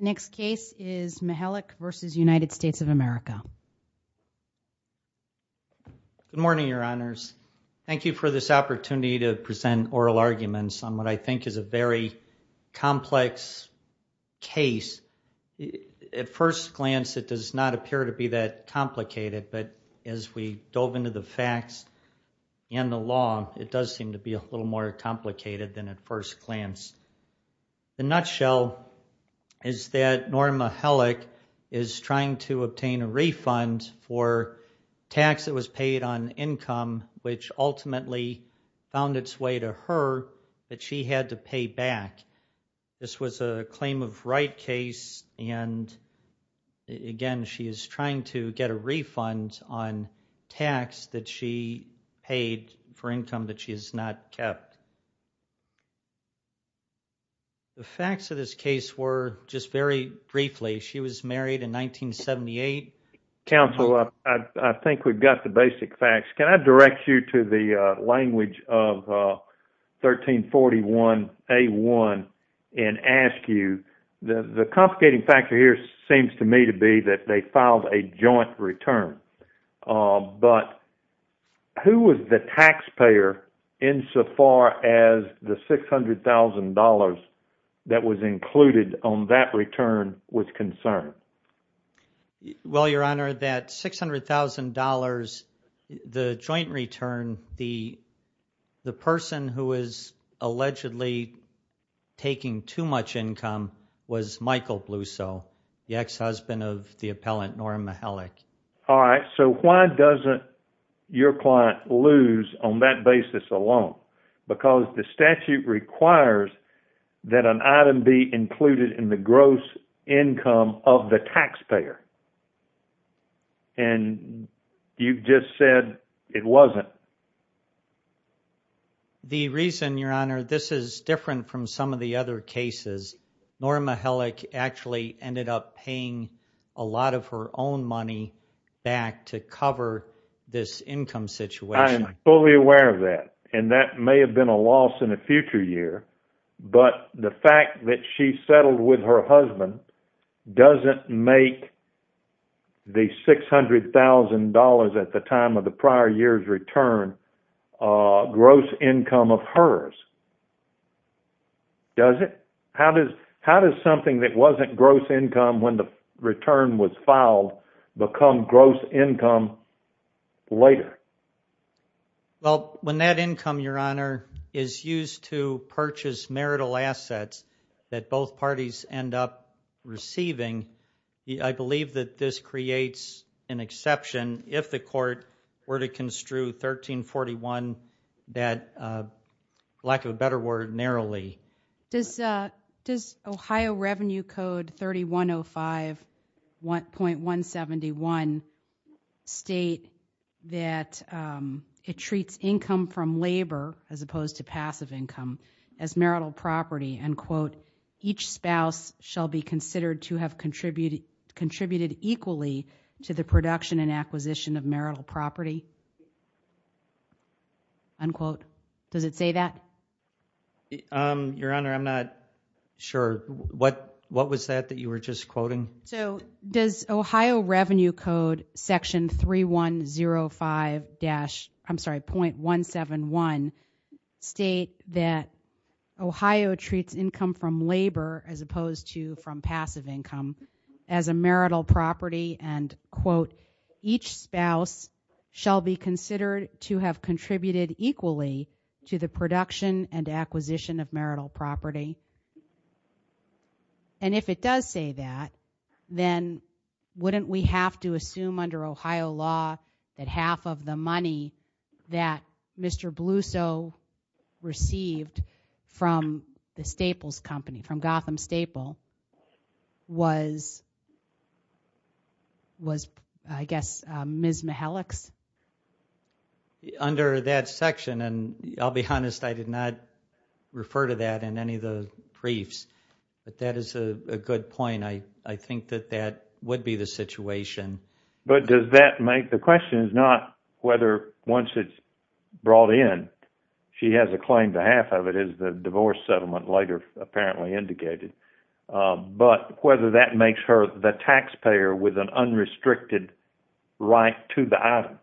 The next case is Mihalik v. United States of America. Good morning, Your Honors. Thank you for this opportunity to present oral arguments on what I think is a very complex case. At first glance, it does not appear to be that complicated, but as we dove into the facts and the law, it does seem to be a little more complicated than at first glance. The nutshell is that Norma Mihalik is trying to obtain a refund for tax that was paid on income, which ultimately found its way to her that she had to pay back. This was a claim of right case, and again, she is trying to get a refund on tax that she paid for income that she has not kept. The facts of this case were, just very briefly, she was married in 1978. Counsel, I think we've got the basic facts. Can I direct you to the language of 1341A1 and ask you, the complicating factor here seems to me to be that they filed a joint return, but who was the taxpayer insofar as the $600,000 that was included on that return was concerned? Well, Your Honor, that $600,000, the joint return, the person who was allegedly taking too much income was Michael Blusow, the ex-husband of the appellant Norma Mihalik. All right, so why doesn't your client lose on that basis alone? Because the statute requires that an item be included in the gross income of the taxpayer, and you just said it wasn't. The reason, Your Honor, this is different from some of the other cases. Norma Mihalik actually ended up paying a lot of her own money back to cover this income situation. I'm fully aware of that, and that may have been a loss in a future year, but the fact that she settled with her husband doesn't make the $600,000 at the time of the prior year's return gross income of hers, does it? How does something that wasn't gross income when the return was filed become gross income later? Well, when that income, Your Honor, is used to purchase marital assets that both parties end up receiving, I believe that this creates an exception if the court were to construe 1341, that, lack of a better word, narrowly. Does Ohio Revenue Code 3105.171 state that it treats income from labor as opposed to passive income as marital property, each spouse shall be considered to have contributed equally to the production and acquisition of marital property? Does it say that? Your Honor, I'm not sure. What was that you were just quoting? Does Ohio Revenue Code Section 3105.171 state that Ohio treats income from labor as opposed to from passive income as a marital property and, quote, each spouse shall be considered to have contributed equally to the production and acquisition of marital property? And if it does say that, then wouldn't we have to assume under Ohio law that half of the money that Mr. Bluso received from the Staples Company, from Gotham Staple, was, I guess, Ms. Bluso's and any of the priefs? But that is a good point. I think that that would be the situation. But does that make, the question is not whether once it's brought in, she has a claim to half of it as the divorce settlement later apparently indicated, but whether that makes her the taxpayer with an unrestricted right to the item.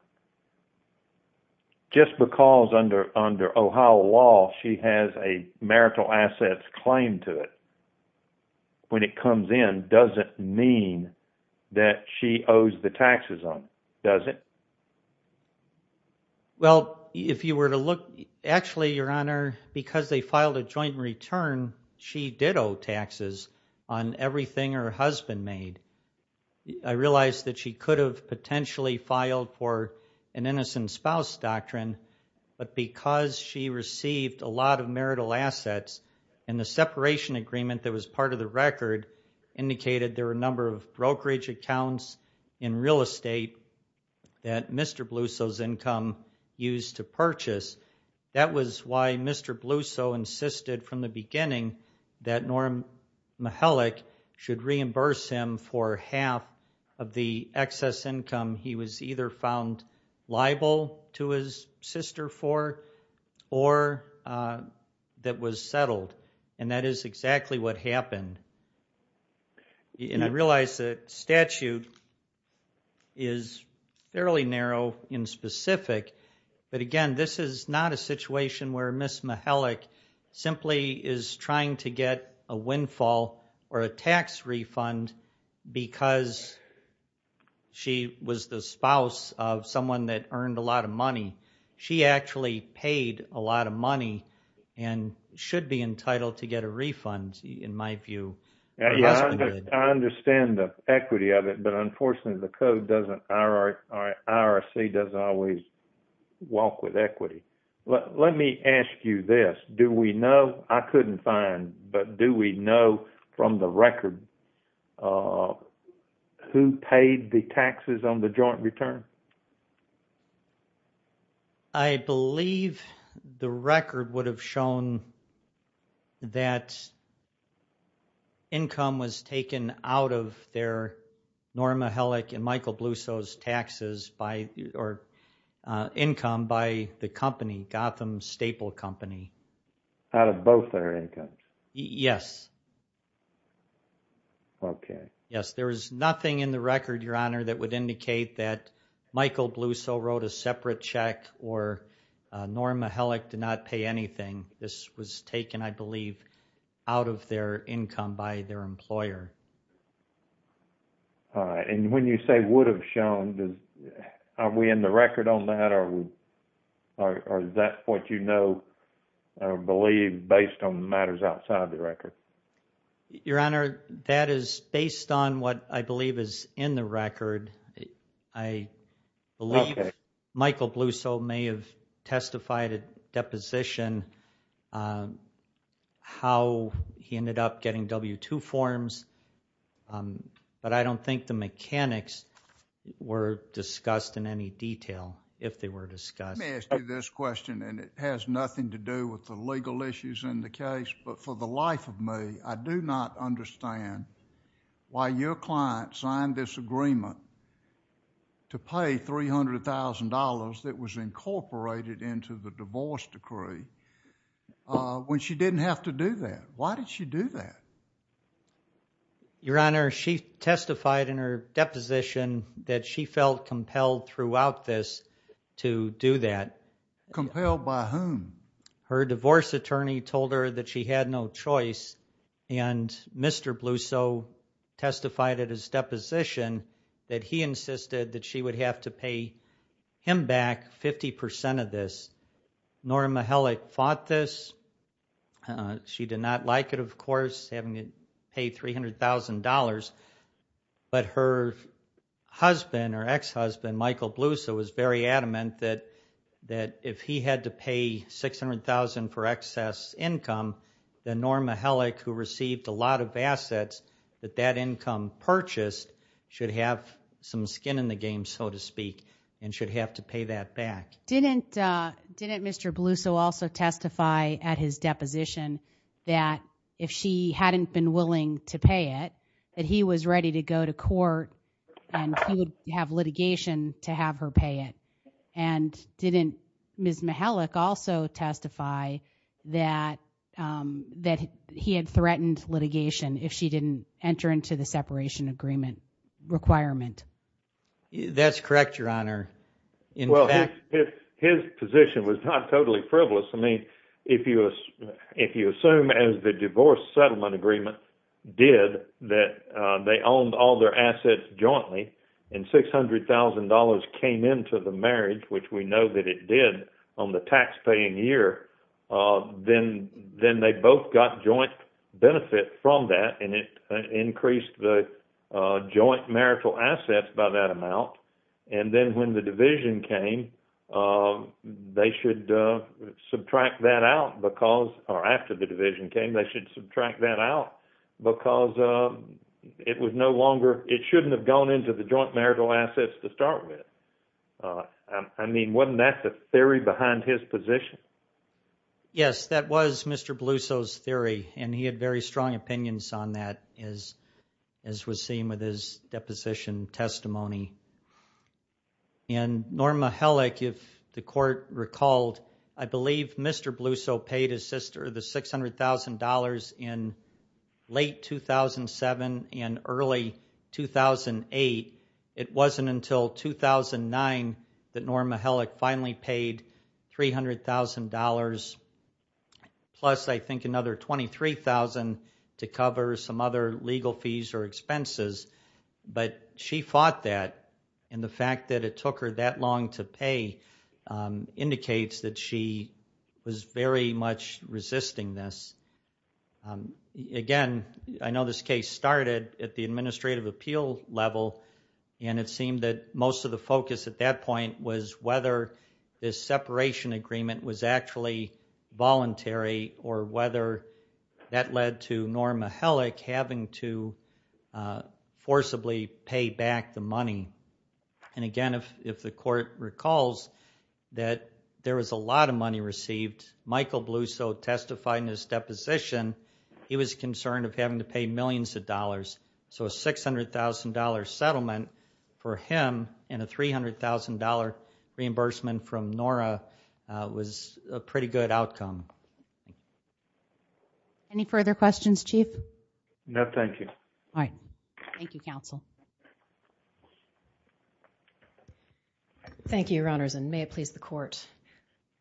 Just because under Ohio law she has a marital assets claim to it when it comes in doesn't mean that she owes the taxes on it, does it? Well, if you were to look, actually, Your Honor, because they filed a joint return, she did owe taxes on everything her husband made. I realize that she could have potentially filed for an And the separation agreement that was part of the record indicated there were a number of brokerage accounts in real estate that Mr. Bluso's income used to purchase. That was why Mr. Bluso insisted from the beginning that Norm Mihalik should reimburse him for half of the excess income he was either found liable to his sister for or that was settled. And that is exactly what happened. And I realize that statute is fairly narrow in specific, but again, this is not a situation where Ms. Mihalik simply is trying to get a windfall or a tax refund because she was the spouse of someone that earned a lot of money. She actually paid a lot of money and should be entitled to get a refund in my view. I understand the equity of it, but unfortunately the code doesn't, IRC doesn't always walk with equity. Let me ask you this. Do we know, I couldn't find, but do we know from the record who paid the taxes on the joint return? I believe the record would have shown that income was taken out of their Norm Mihalik and Michael Bluso's taxes by or income by the company, Gotham Staple Company. Out of both their incomes? Yes. Okay. Yes, there is nothing in the record, Your Honor, that would indicate that Michael Bluso wrote a separate check or Norm Mihalik did not pay anything. This was taken, I believe, out of their income by their employer. And when you say would have shown, are we in the record on that or is that what you know or believe based on the matters outside the record? Your Honor, that is based on what I believe is in the record. I believe Michael Bluso may have depositioned how he ended up getting W-2 forms, but I don't think the mechanics were discussed in any detail, if they were discussed. Let me ask you this question and it has nothing to do with the legal issues in the case, but for the life of me, I do not understand why your client signed this agreement to pay $300,000 that was incorporated into the divorce decree when she didn't have to do that. Why did she do that? Your Honor, she testified in her deposition that she felt compelled throughout this to do that. Compelled by whom? Her divorce attorney told her that she had no choice and Mr. Bluso testified at his deposition that he insisted that she would have to pay him back 50% of this. Norma Hellick fought this. She did not like it, of course, having to pay $300,000, but her husband or ex-husband, Michael Bluso, was very adamant that if he had to pay $600,000 for excess income, then Norma Hellick, who received a lot of assets that that income purchased, should have some skin in the game, so to speak, and should have to pay that back. Didn't Mr. Bluso also testify at his deposition that if she hadn't been willing to pay it, that he was ready to go to court and he would have litigation to have her pay it? And didn't Ms. Hellick also testify that he had threatened litigation if she didn't enter into the separation agreement requirement? That's correct, Your Honor. His position was not totally frivolous. I mean, if you assume as the divorce settlement agreement did that they owned all their assets jointly and $600,000 came into the marriage, which we know that it did on the taxpaying year, then they both got joint benefit from that and it increased the joint marital assets by that amount. And then when the division came, they should subtract that out because, or after the division came, they should subtract that out because it was no longer, it shouldn't have gone into the joint marital assets to start with. I mean, wasn't that the theory behind his position? Yes, that was Mr. Bluso's theory, and he had very strong opinions on that as was seen with his deposition testimony. And Norma Hellick, if the court recalled, I believe Mr. Bluso paid his sister the $600,000 in late 2007 and early 2008. It wasn't until 2009 that Norma Hellick finally paid $300,000 plus I think another $23,000 to cover some other legal fees or expenses, but she fought that. And the fact that it took her that long to pay indicates that she was very much resisting this. Again, I know this case started at the administrative appeal level, and it seemed that most of the focus at that point was whether this separation agreement was actually voluntary or whether that led to Norma Hellick having to forcibly pay back the money. And again, if the court recalls that there was a lot of money received, Michael Bluso testified in his deposition, he was concerned of having to pay millions of dollars. So a $600,000 settlement for him and a $300,000 reimbursement from Nora was a pretty good outcome. Any further questions, Chief? No, thank you. All right. Thank you, counsel. Thank you, Your Honors, and may it please the court.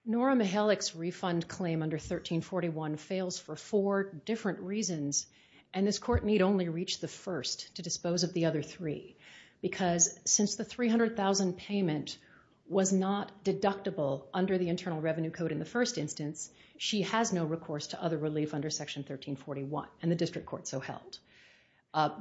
Norma Hellick's refund claim under 1341 fails for four different reasons, and this court need only reach the first to dispose of the other three, because since the $300,000 payment was not recourse to other relief under Section 1341, and the district court so held.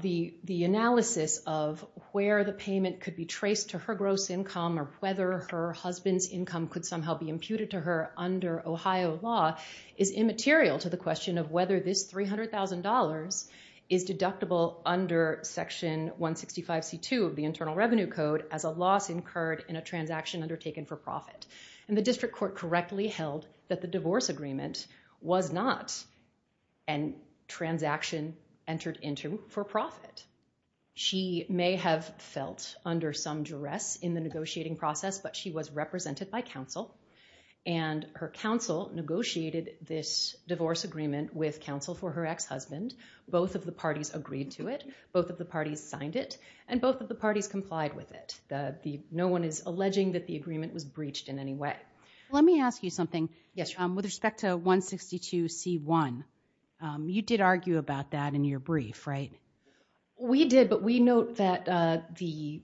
The analysis of where the payment could be traced to her gross income or whether her husband's income could somehow be imputed to her under Ohio law is immaterial to the question of whether this $300,000 is deductible under Section 165C2 of the Internal Revenue Code as a loss incurred in a transaction undertaken for profit. And the district court correctly held that the divorce agreement was not a transaction entered into for profit. She may have felt under some duress in the negotiating process, but she was represented by counsel, and her counsel negotiated this divorce agreement with counsel for her ex-husband. Both of the parties agreed to it. Both of the parties signed it, and both of the parties complied with it. No one is alleging that the agreement was breached in any way. Let me ask you something. Yes. With respect to 162C1, you did argue about that in your brief, right? We did, but we note that the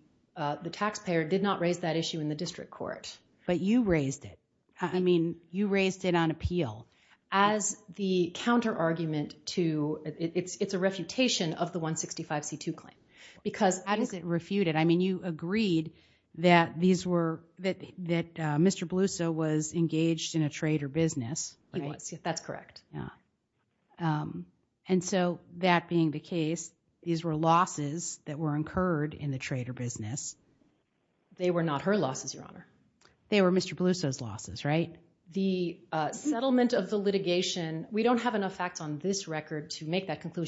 taxpayer did not raise that issue in the district court. But you raised it. I mean, you raised it on appeal as the counter argument to, it's a refutation of the 165C2 because it is refuted. I mean, you agreed that Mr. Bluso was engaged in a trade or business. He was. That's correct. And so that being the case, these were losses that were incurred in the trade or business. They were not her losses, Your Honor. They were Mr. Bluso's losses, right? The settlement of the litigation, we don't have enough facts on this record to make that for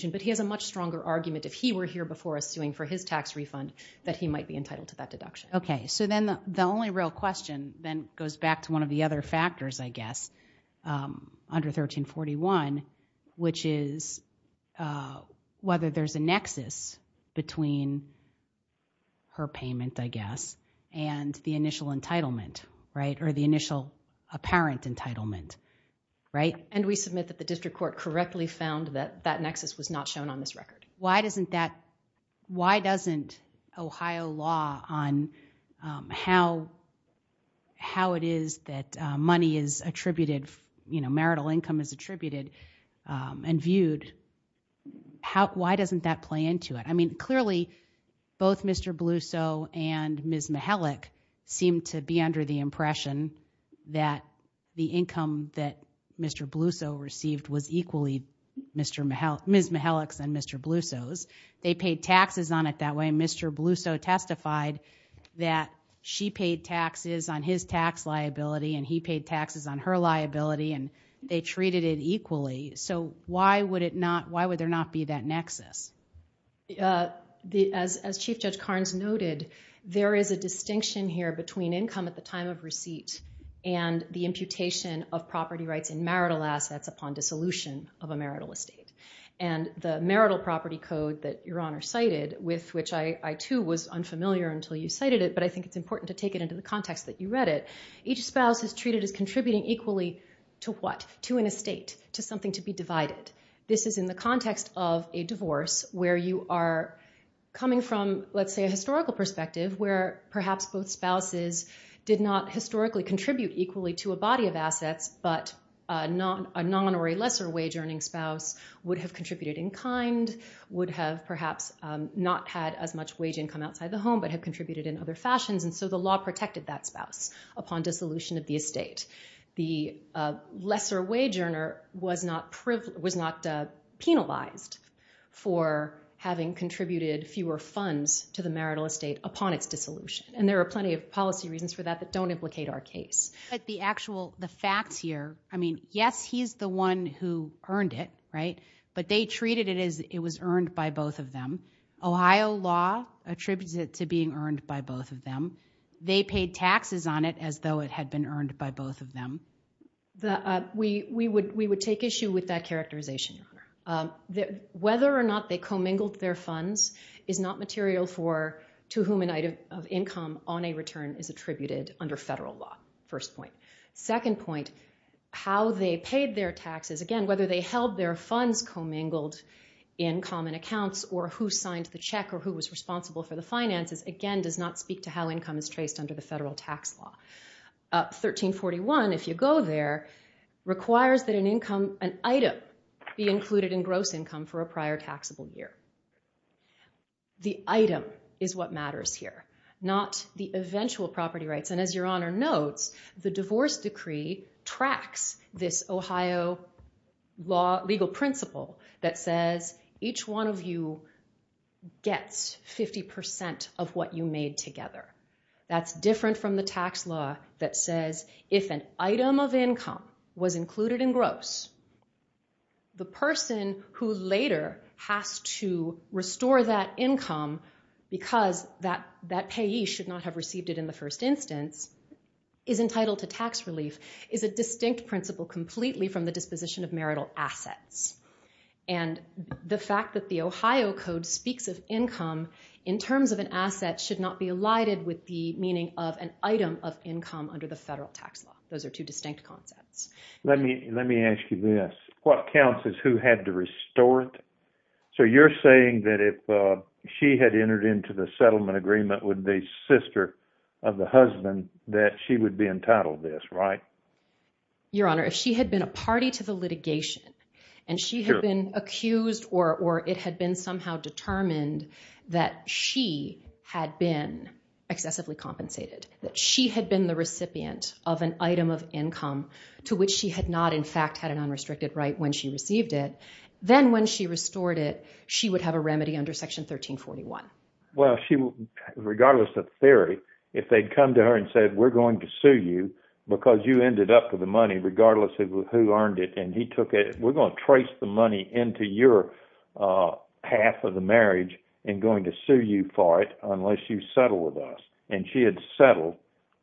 his tax refund that he might be entitled to that deduction. Okay. So then the only real question then goes back to one of the other factors, I guess, under 1341, which is whether there's a nexus between her payment, I guess, and the initial entitlement, right? Or the initial apparent entitlement, right? And we submit that the district court correctly found that that nexus was not shown on this record. Why doesn't that, why doesn't Ohio law on how it is that money is attributed, you know, marital income is attributed and viewed, why doesn't that play into it? I mean, clearly, both Mr. Bluso and Ms. Mihalik seem to be under the impression that the income that Mr. Bluso received was equally Ms. Mihalik's and Mr. Bluso's. They paid taxes on it that way. Mr. Bluso testified that she paid taxes on his tax liability and he paid taxes on her liability and they treated it equally. So why would it not, why would there not be that nexus? As Chief Judge Carnes noted, there is a distinction here between income at the time of receipt and the imputation of property rights and marital assets upon dissolution of a marital estate. And the marital property code that Your Honor cited, with which I too was unfamiliar until you cited it, but I think it's important to take it into the context that you read it, each spouse is treated as contributing equally to what? To an estate, to something to be divided. This is in the context of a divorce where you are coming from, let's say, a historical perspective where perhaps both spouses did not historically contribute equally to a body of assets, but a non or a lesser wage earning spouse would have contributed in kind, would have perhaps not had as much wage income outside the home, but have contributed in other fashions. And so the law protected that spouse upon dissolution of the estate. The lesser wage earner was not penalized for having contributed fewer funds to the marital estate upon its dissolution. And there are plenty of policy reasons for that that don't implicate our case. But the actual, the facts here, I mean, yes, he's the one who earned it, right? But they treated it as it was earned by both of them. Ohio law attributes it to being earned by both of them. They paid taxes on it as though it had been earned by both of them. We would take issue with that characterization, Your Honor. Whether or not they commingled their funds is not material for to whom an item of income on a return is attributed under federal law, first point. Second point, how they paid their taxes, again, whether they held their funds commingled in common accounts or who signed the check or who was responsible for the finances, again, does not speak to how income is traced under the federal tax law. 1341, if you go there, requires that an income, an item be included in gross income for a prior taxable year. The item is what matters here, not the eventual property rights. And as Your Honor notes, the divorce decree tracks this Ohio law, legal principle that says each one of you gets 50% of what you made together. That's different from the tax law that says if an item of income was included in gross, the person who later has to restore that income because that payee should not have received it in the first instance is entitled to tax relief, is a distinct principle completely from the disposition of marital assets. And the fact that the Ohio Code speaks of income in terms of an asset should not be with the meaning of an item of income under the federal tax law. Those are two distinct concepts. Let me let me ask you this. What counts is who had to restore it. So you're saying that if she had entered into the settlement agreement with the sister of the husband, that she would be entitled to this, right? Your Honor, if she had been a party to the litigation and she had been accused or it had been somehow determined that she had been excessively compensated, that she had been the recipient of an item of income to which she had not in fact had an unrestricted right when she received it, then when she restored it, she would have a remedy under Section 1341. Well, regardless of theory, if they'd come to her and said, we're going to sue you because you ended up with the money, regardless of who earned it. We're going to trace the money into your path of the marriage and going to sue you for it unless you settle with us. And she had settled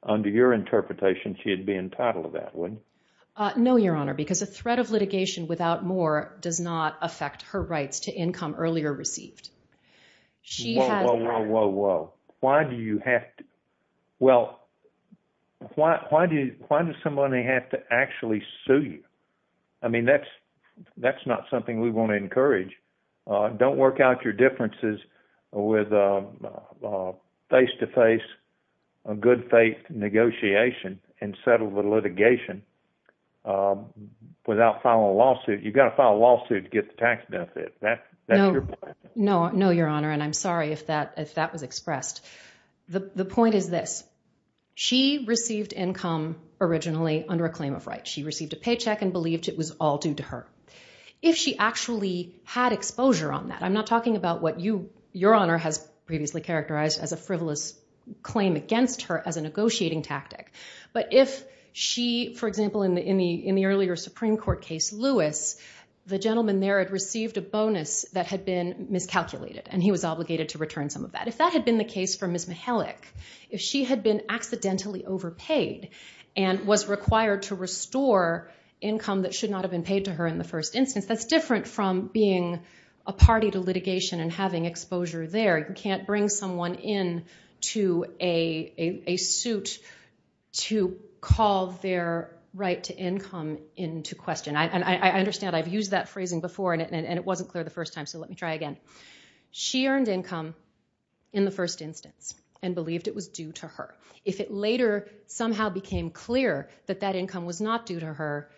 under your interpretation. She'd be entitled to that one. No, Your Honor, because a threat of litigation without more does not affect her rights to income earlier received. She had. Whoa, whoa, whoa, whoa, whoa. Why do you have to? Well, why do you why does somebody have to actually sue you? I mean, that's that's not something we want to encourage. Don't work out your differences with a face to face, a good faith negotiation and settle the litigation without filing a lawsuit. You've got to file a lawsuit to get the tax benefit. No, no, Your Honor. And I'm sorry if that if that was expressed. The point is this. She received income originally under a claim of right. She received a paycheck and believed it was all due to her. If she actually had exposure on that, I'm not talking about what you your honor has previously characterized as a frivolous claim against her as a negotiating tactic. But if she, for example, in the in the in the earlier Supreme Court case, Lewis, the gentleman there had received a bonus that had been miscalculated and he was obligated to return some of that. If that had been the case for Ms. Mihalik, if she had been accidentally overpaid and was required to restore income that should not have been paid to her in the first instance, that's different from being a party to litigation and having exposure there. You can't bring someone in to a a suit to call their right to income into question. And I understand I've used that phrasing before and it wasn't clear the first time. So let me try again. She earned income in the first instance and believed it was due to her. If it later somehow became clear that that income was not due to her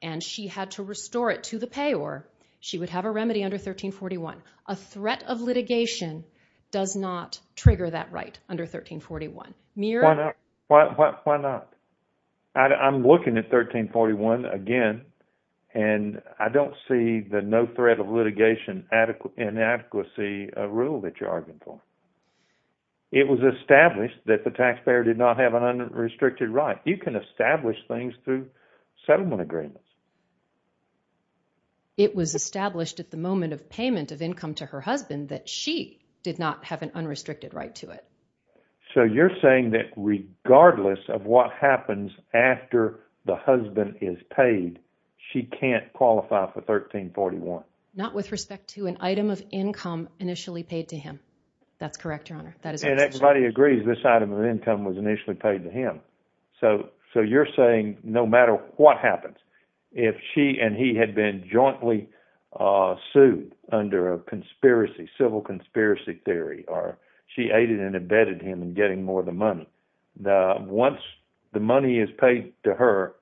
and she had to restore it to the payor, she would have a remedy under 1341. A threat of litigation does not trigger that right under 1341. Why not? I'm looking at 1341 again and I don't see the no threat of litigation inadequacy rule that you're arguing for. It was established that the taxpayer did not have an unrestricted right. You can establish things through settlement agreements. It was established at the moment of payment of income to her husband that she did not have an unrestricted right to it. So you're saying that regardless of what happens after the husband is paid, she can't qualify for 1341? Not with respect to an item of income initially paid to him. That's correct, Your Honor. And everybody agrees this item of income was initially paid to him. So you're saying no matter what happens, if she and he had been jointly sued under a conspiracy, civil conspiracy theory, or she aided and abetted him in getting more of the money, once the money is paid to her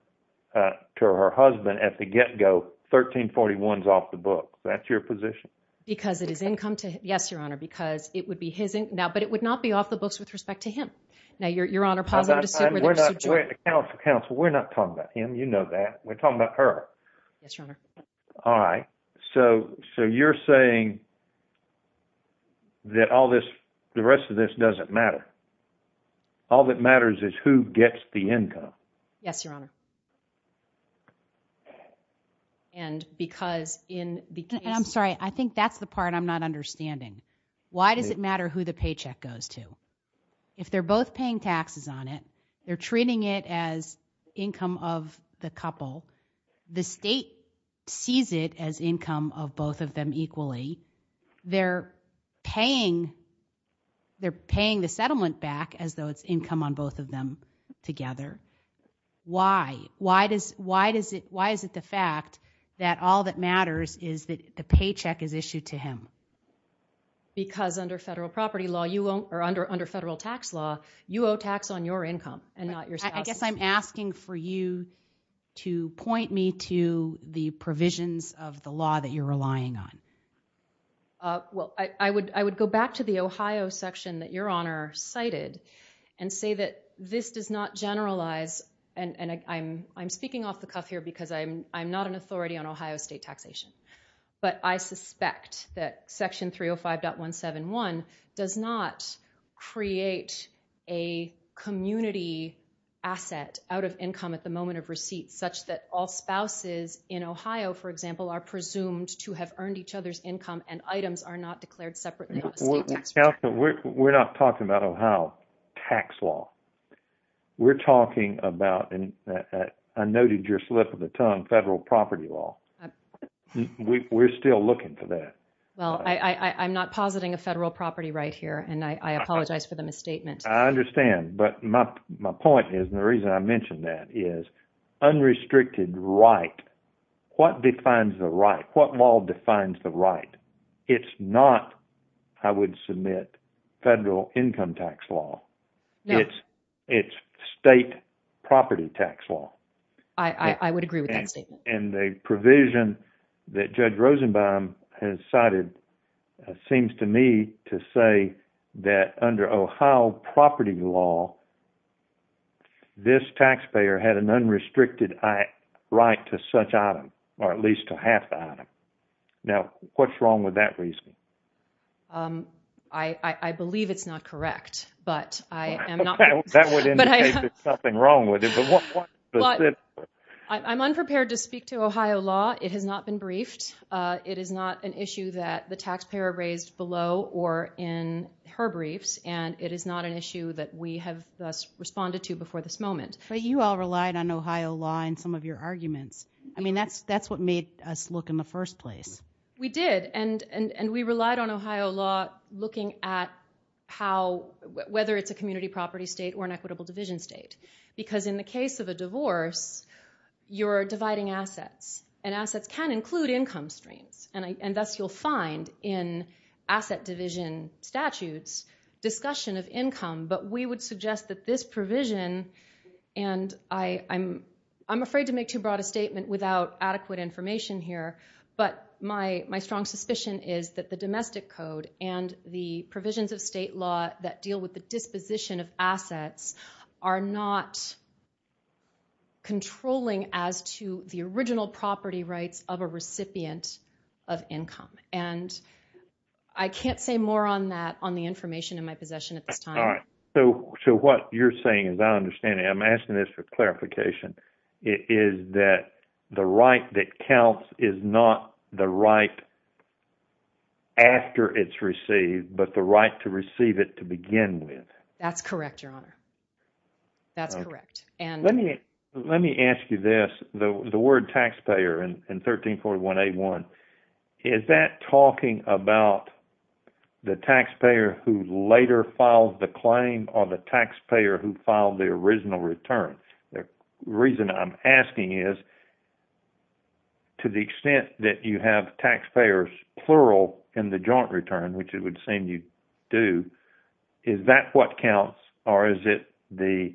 husband at the get-go, 1341 is off the book. That's your position? Because it is income to him. Yes, Your Honor, because it would be his income. But it would not be off the books with respect to him. Now, Your Honor, pause. We're not talking about him. You know that. We're talking about her. Yes, Your Honor. All right. So you're saying that all this, the rest of this doesn't matter. All that matters is who gets the income. Yes, Your Honor. And because in the case— I'm sorry. I think that's the part I'm not understanding. Why does it matter who the paycheck goes to? If they're both paying taxes on it, they're treating it as income of the couple. The state sees it as income of both of them equally. They're paying the settlement back as though it's income on both of them together. Why? Why is it the fact that all that matters is that the paycheck is issued to him? Because under federal property law, or under federal tax law, you owe tax on your income and not your spouse's. I guess I'm asking for you to point me to the provisions of the law that you're relying on. Well, I would go back to the Ohio section that Your Honor cited and say that this does not I'm speaking off the cuff here because I'm not an authority on Ohio state taxation. But I suspect that section 305.171 does not create a community asset out of income at the moment of receipt such that all spouses in Ohio, for example, are presumed to have earned each other's income and items are not declared separately on a state tax return. We're not talking about Ohio tax law. We're talking about, and I noted your slip of the tongue, federal property law. We're still looking for that. Well, I'm not positing a federal property right here, and I apologize for the misstatement. I understand. But my point is, and the reason I mentioned that, is unrestricted right. What defines the right? What law defines the right? It's not, I would submit, federal income tax law. It's state property tax law. I would agree with that statement. And the provision that Judge Rosenbaum has cited seems to me to say that under Ohio property law, this taxpayer had an unrestricted right to such item, or at least to half the item. Now, what's wrong with that reason? Um, I believe it's not correct, but I am not. That would indicate there's something wrong with it. I'm unprepared to speak to Ohio law. It has not been briefed. It is not an issue that the taxpayer raised below or in her briefs, and it is not an issue that we have thus responded to before this moment. But you all relied on Ohio law in some of your arguments. I mean, that's what made us look in the first place. We did, and we relied on Ohio law looking at how, whether it's a community property state or an equitable division state. Because in the case of a divorce, you're dividing assets, and assets can include income strains. And thus, you'll find in asset division statutes, discussion of income. But we would suggest that this provision, and I'm afraid to make too broad a statement without adequate information here, but my strong suspicion is that the domestic code and the provisions of state law that deal with the disposition of assets are not controlling as to the original property rights of a recipient of income. And I can't say more on that, on the information in my possession at this time. All right. So what you're saying is I understand it. I'm asking this for clarification. It is that the right that counts is not the right after it's received, but the right to receive it to begin with. That's correct, Your Honor. That's correct. Let me ask you this, the word taxpayer in 1341A1, is that talking about the taxpayer who later filed the claim or the taxpayer who filed the original return? The reason I'm asking is, to the extent that you have taxpayers plural in the joint return, which it would seem you do, is that what counts? Or is it the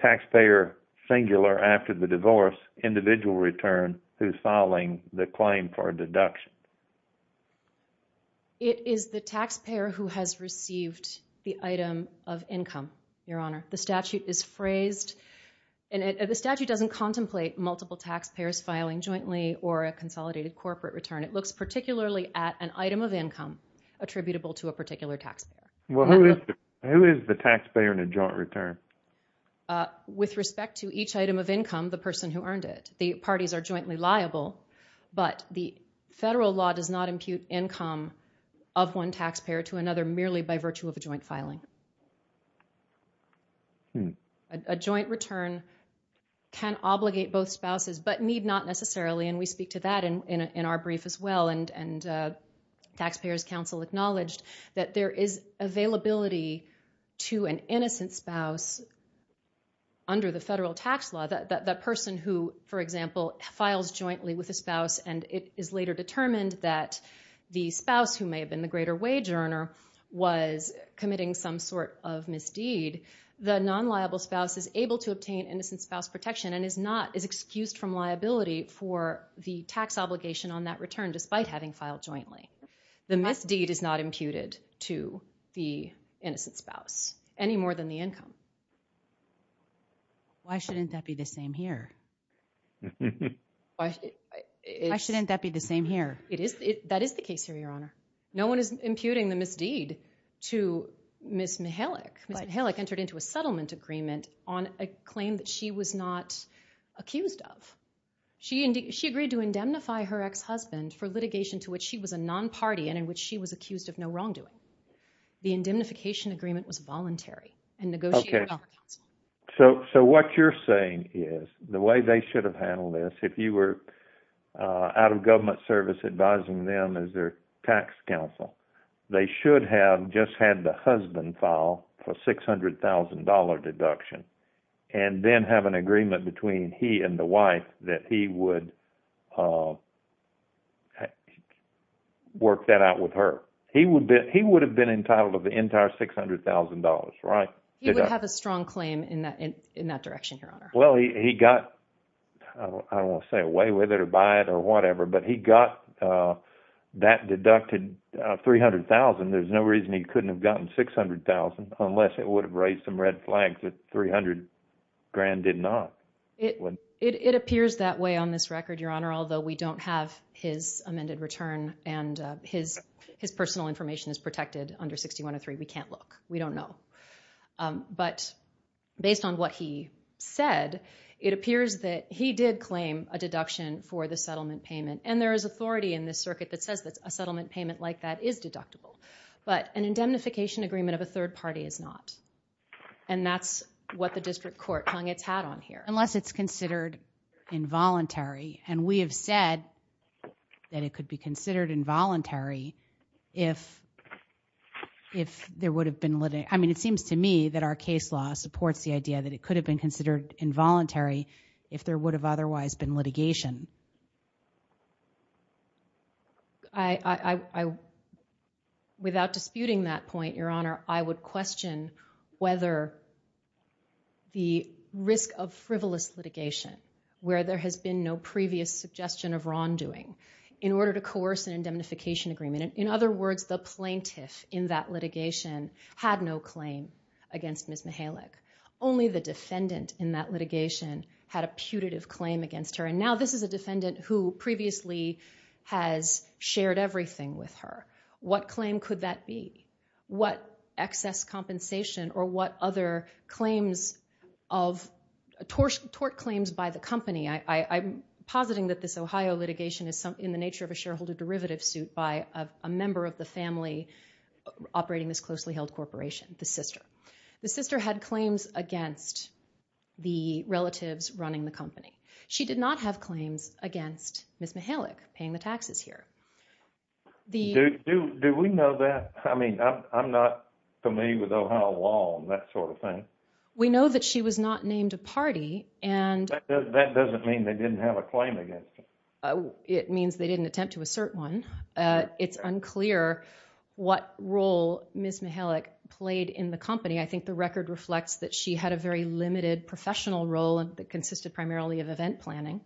taxpayer singular after the divorce, individual return, who's filing the claim for a deduction? It is the taxpayer who has received the item of income, Your Honor. The statute is phrased, and the statute doesn't contemplate multiple taxpayers filing jointly or a consolidated corporate return. It looks particularly at an item of income attributable to a particular taxpayer. Well, who is the taxpayer in a joint return? With respect to each item of income, the person who earned it. The parties are jointly liable, but the federal law does not impute income of one taxpayer to another merely by virtue of a joint filing. A joint return can obligate both spouses, but need not necessarily, and we speak to that in our brief as well. Taxpayers' Council acknowledged that there is availability to an innocent spouse under the federal tax law. That person who, for example, files jointly with a spouse, and it is later determined that the spouse, who may have been the greater wage earner, was committing some sort of misdeed. The non-liable spouse is able to obtain innocent spouse protection and is not as excused from liability for the tax obligation on that return, despite having filed jointly. The misdeed is not imputed to the innocent spouse any more than the income. Why shouldn't that be the same here? Why shouldn't that be the same here? It is. That is the case here, Your Honor. No one is imputing the misdeed to Ms. Mihalik. Ms. Mihalik entered into a settlement agreement on a claim that she was not accused of. She agreed to indemnify her ex-husband for litigation to which she was a non-party and in which she was accused of no wrongdoing. The indemnification agreement was voluntary and negotiated on the council. So what you're saying is, the way they should have handled this, if you were out of government service advising them as their tax counsel, they should have just had the husband file for $600,000 deduction and then have an agreement between he and the wife that he would work that out with her. He would have been entitled to the entire $600,000, right? He would have a strong claim in that direction, Your Honor. Well, he got, I don't want to say away with it or buy it or whatever, but he got that deducted $300,000. There's no reason he couldn't have gotten $600,000 unless it would have raised some red flags that $300,000 did not. It appears that way on this record, Your Honor, although we don't have his amended return and his personal information is protected under 6103. We can't look. We don't know. But based on what he said, it appears that he did claim a deduction for the settlement payment. And there is authority in this circuit that says that a settlement payment like that is deductible. But an indemnification agreement of a third party is not. And that's what the district court hung its hat on here, unless it's considered involuntary. And we have said that it could be considered involuntary if there would have been litigation. I mean, it seems to me that our case law supports the idea that it could have been considered involuntary if there would have otherwise been litigation. I, without disputing that point, Your Honor, I would question whether the risk of frivolous litigation, where there has been no previous suggestion of wrongdoing in order to coerce an indemnification agreement. In other words, the plaintiff in that litigation had no claim against Ms. Mihalik. Only the defendant in that litigation had a putative claim against her. And now this is a defendant who previously has shared everything with her. What claim could that be? What excess compensation or what other claims of, tort claims by the company? I'm positing that this Ohio litigation is in the nature of a shareholder derivative suit by a member of the family operating this closely held corporation, the sister. The sister had claims against the relatives running the company. She did not have claims against Ms. Mihalik paying the taxes here. Do we know that? I mean, I'm not familiar with Ohio law and that sort of thing. We know that she was not named a party and... That doesn't mean they didn't have a claim against her. It means they didn't attempt to assert one. It's unclear what role Ms. Mihalik played in the company. I think the record reflects that she had a very limited professional role and that consisted primarily of event planning.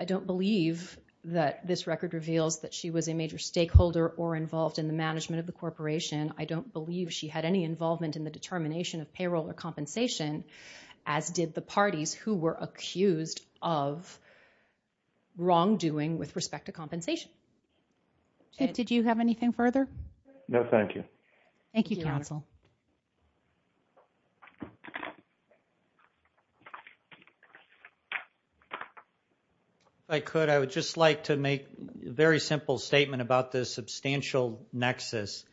I don't believe that this record reveals that she was a major stakeholder or involved in the management of the corporation. I don't believe she had any involvement in the determination of payroll or compensation as did the parties who were accused of wrongdoing with respect to compensation. Did you have anything further? No, thank you. Thank you, counsel. If I could, I would just like to make a very simple statement about this substantial nexus.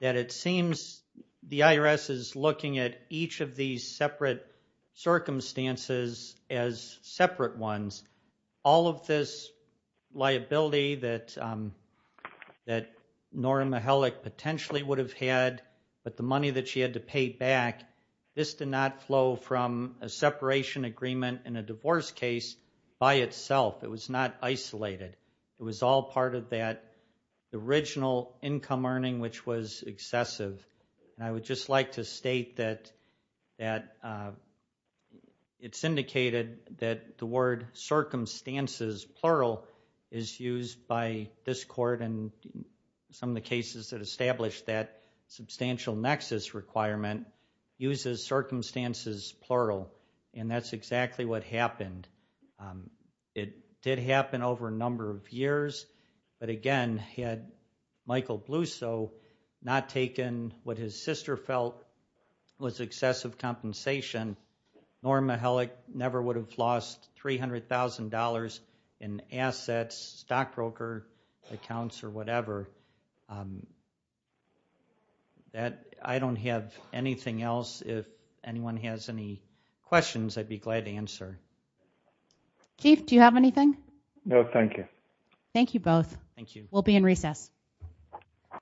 That it seems the IRS is looking at each of these separate circumstances as separate ones. All of this liability that Nora Mihalik potentially would have had but the money that she had to pay back, this did not flow from a separation agreement in a divorce case by itself. It was not isolated. It was all part of that original income earning which was excessive. And I would just like to state that it's indicated that the word circumstances, plural, is used by this court and some of the cases that established that substantial nexus requirement uses circumstances, plural. And that's exactly what happened. It did happen over a number of years. But again, had Michael Blusow not taken what his sister felt was excessive compensation Nora Mihalik never would have lost $300,000 in assets, stockbroker accounts, or whatever. That I don't have anything else. If anyone has any questions, I'd be glad to answer. Keith, do you have anything? No, thank you. Thank you both. Thank you. We'll be in recess.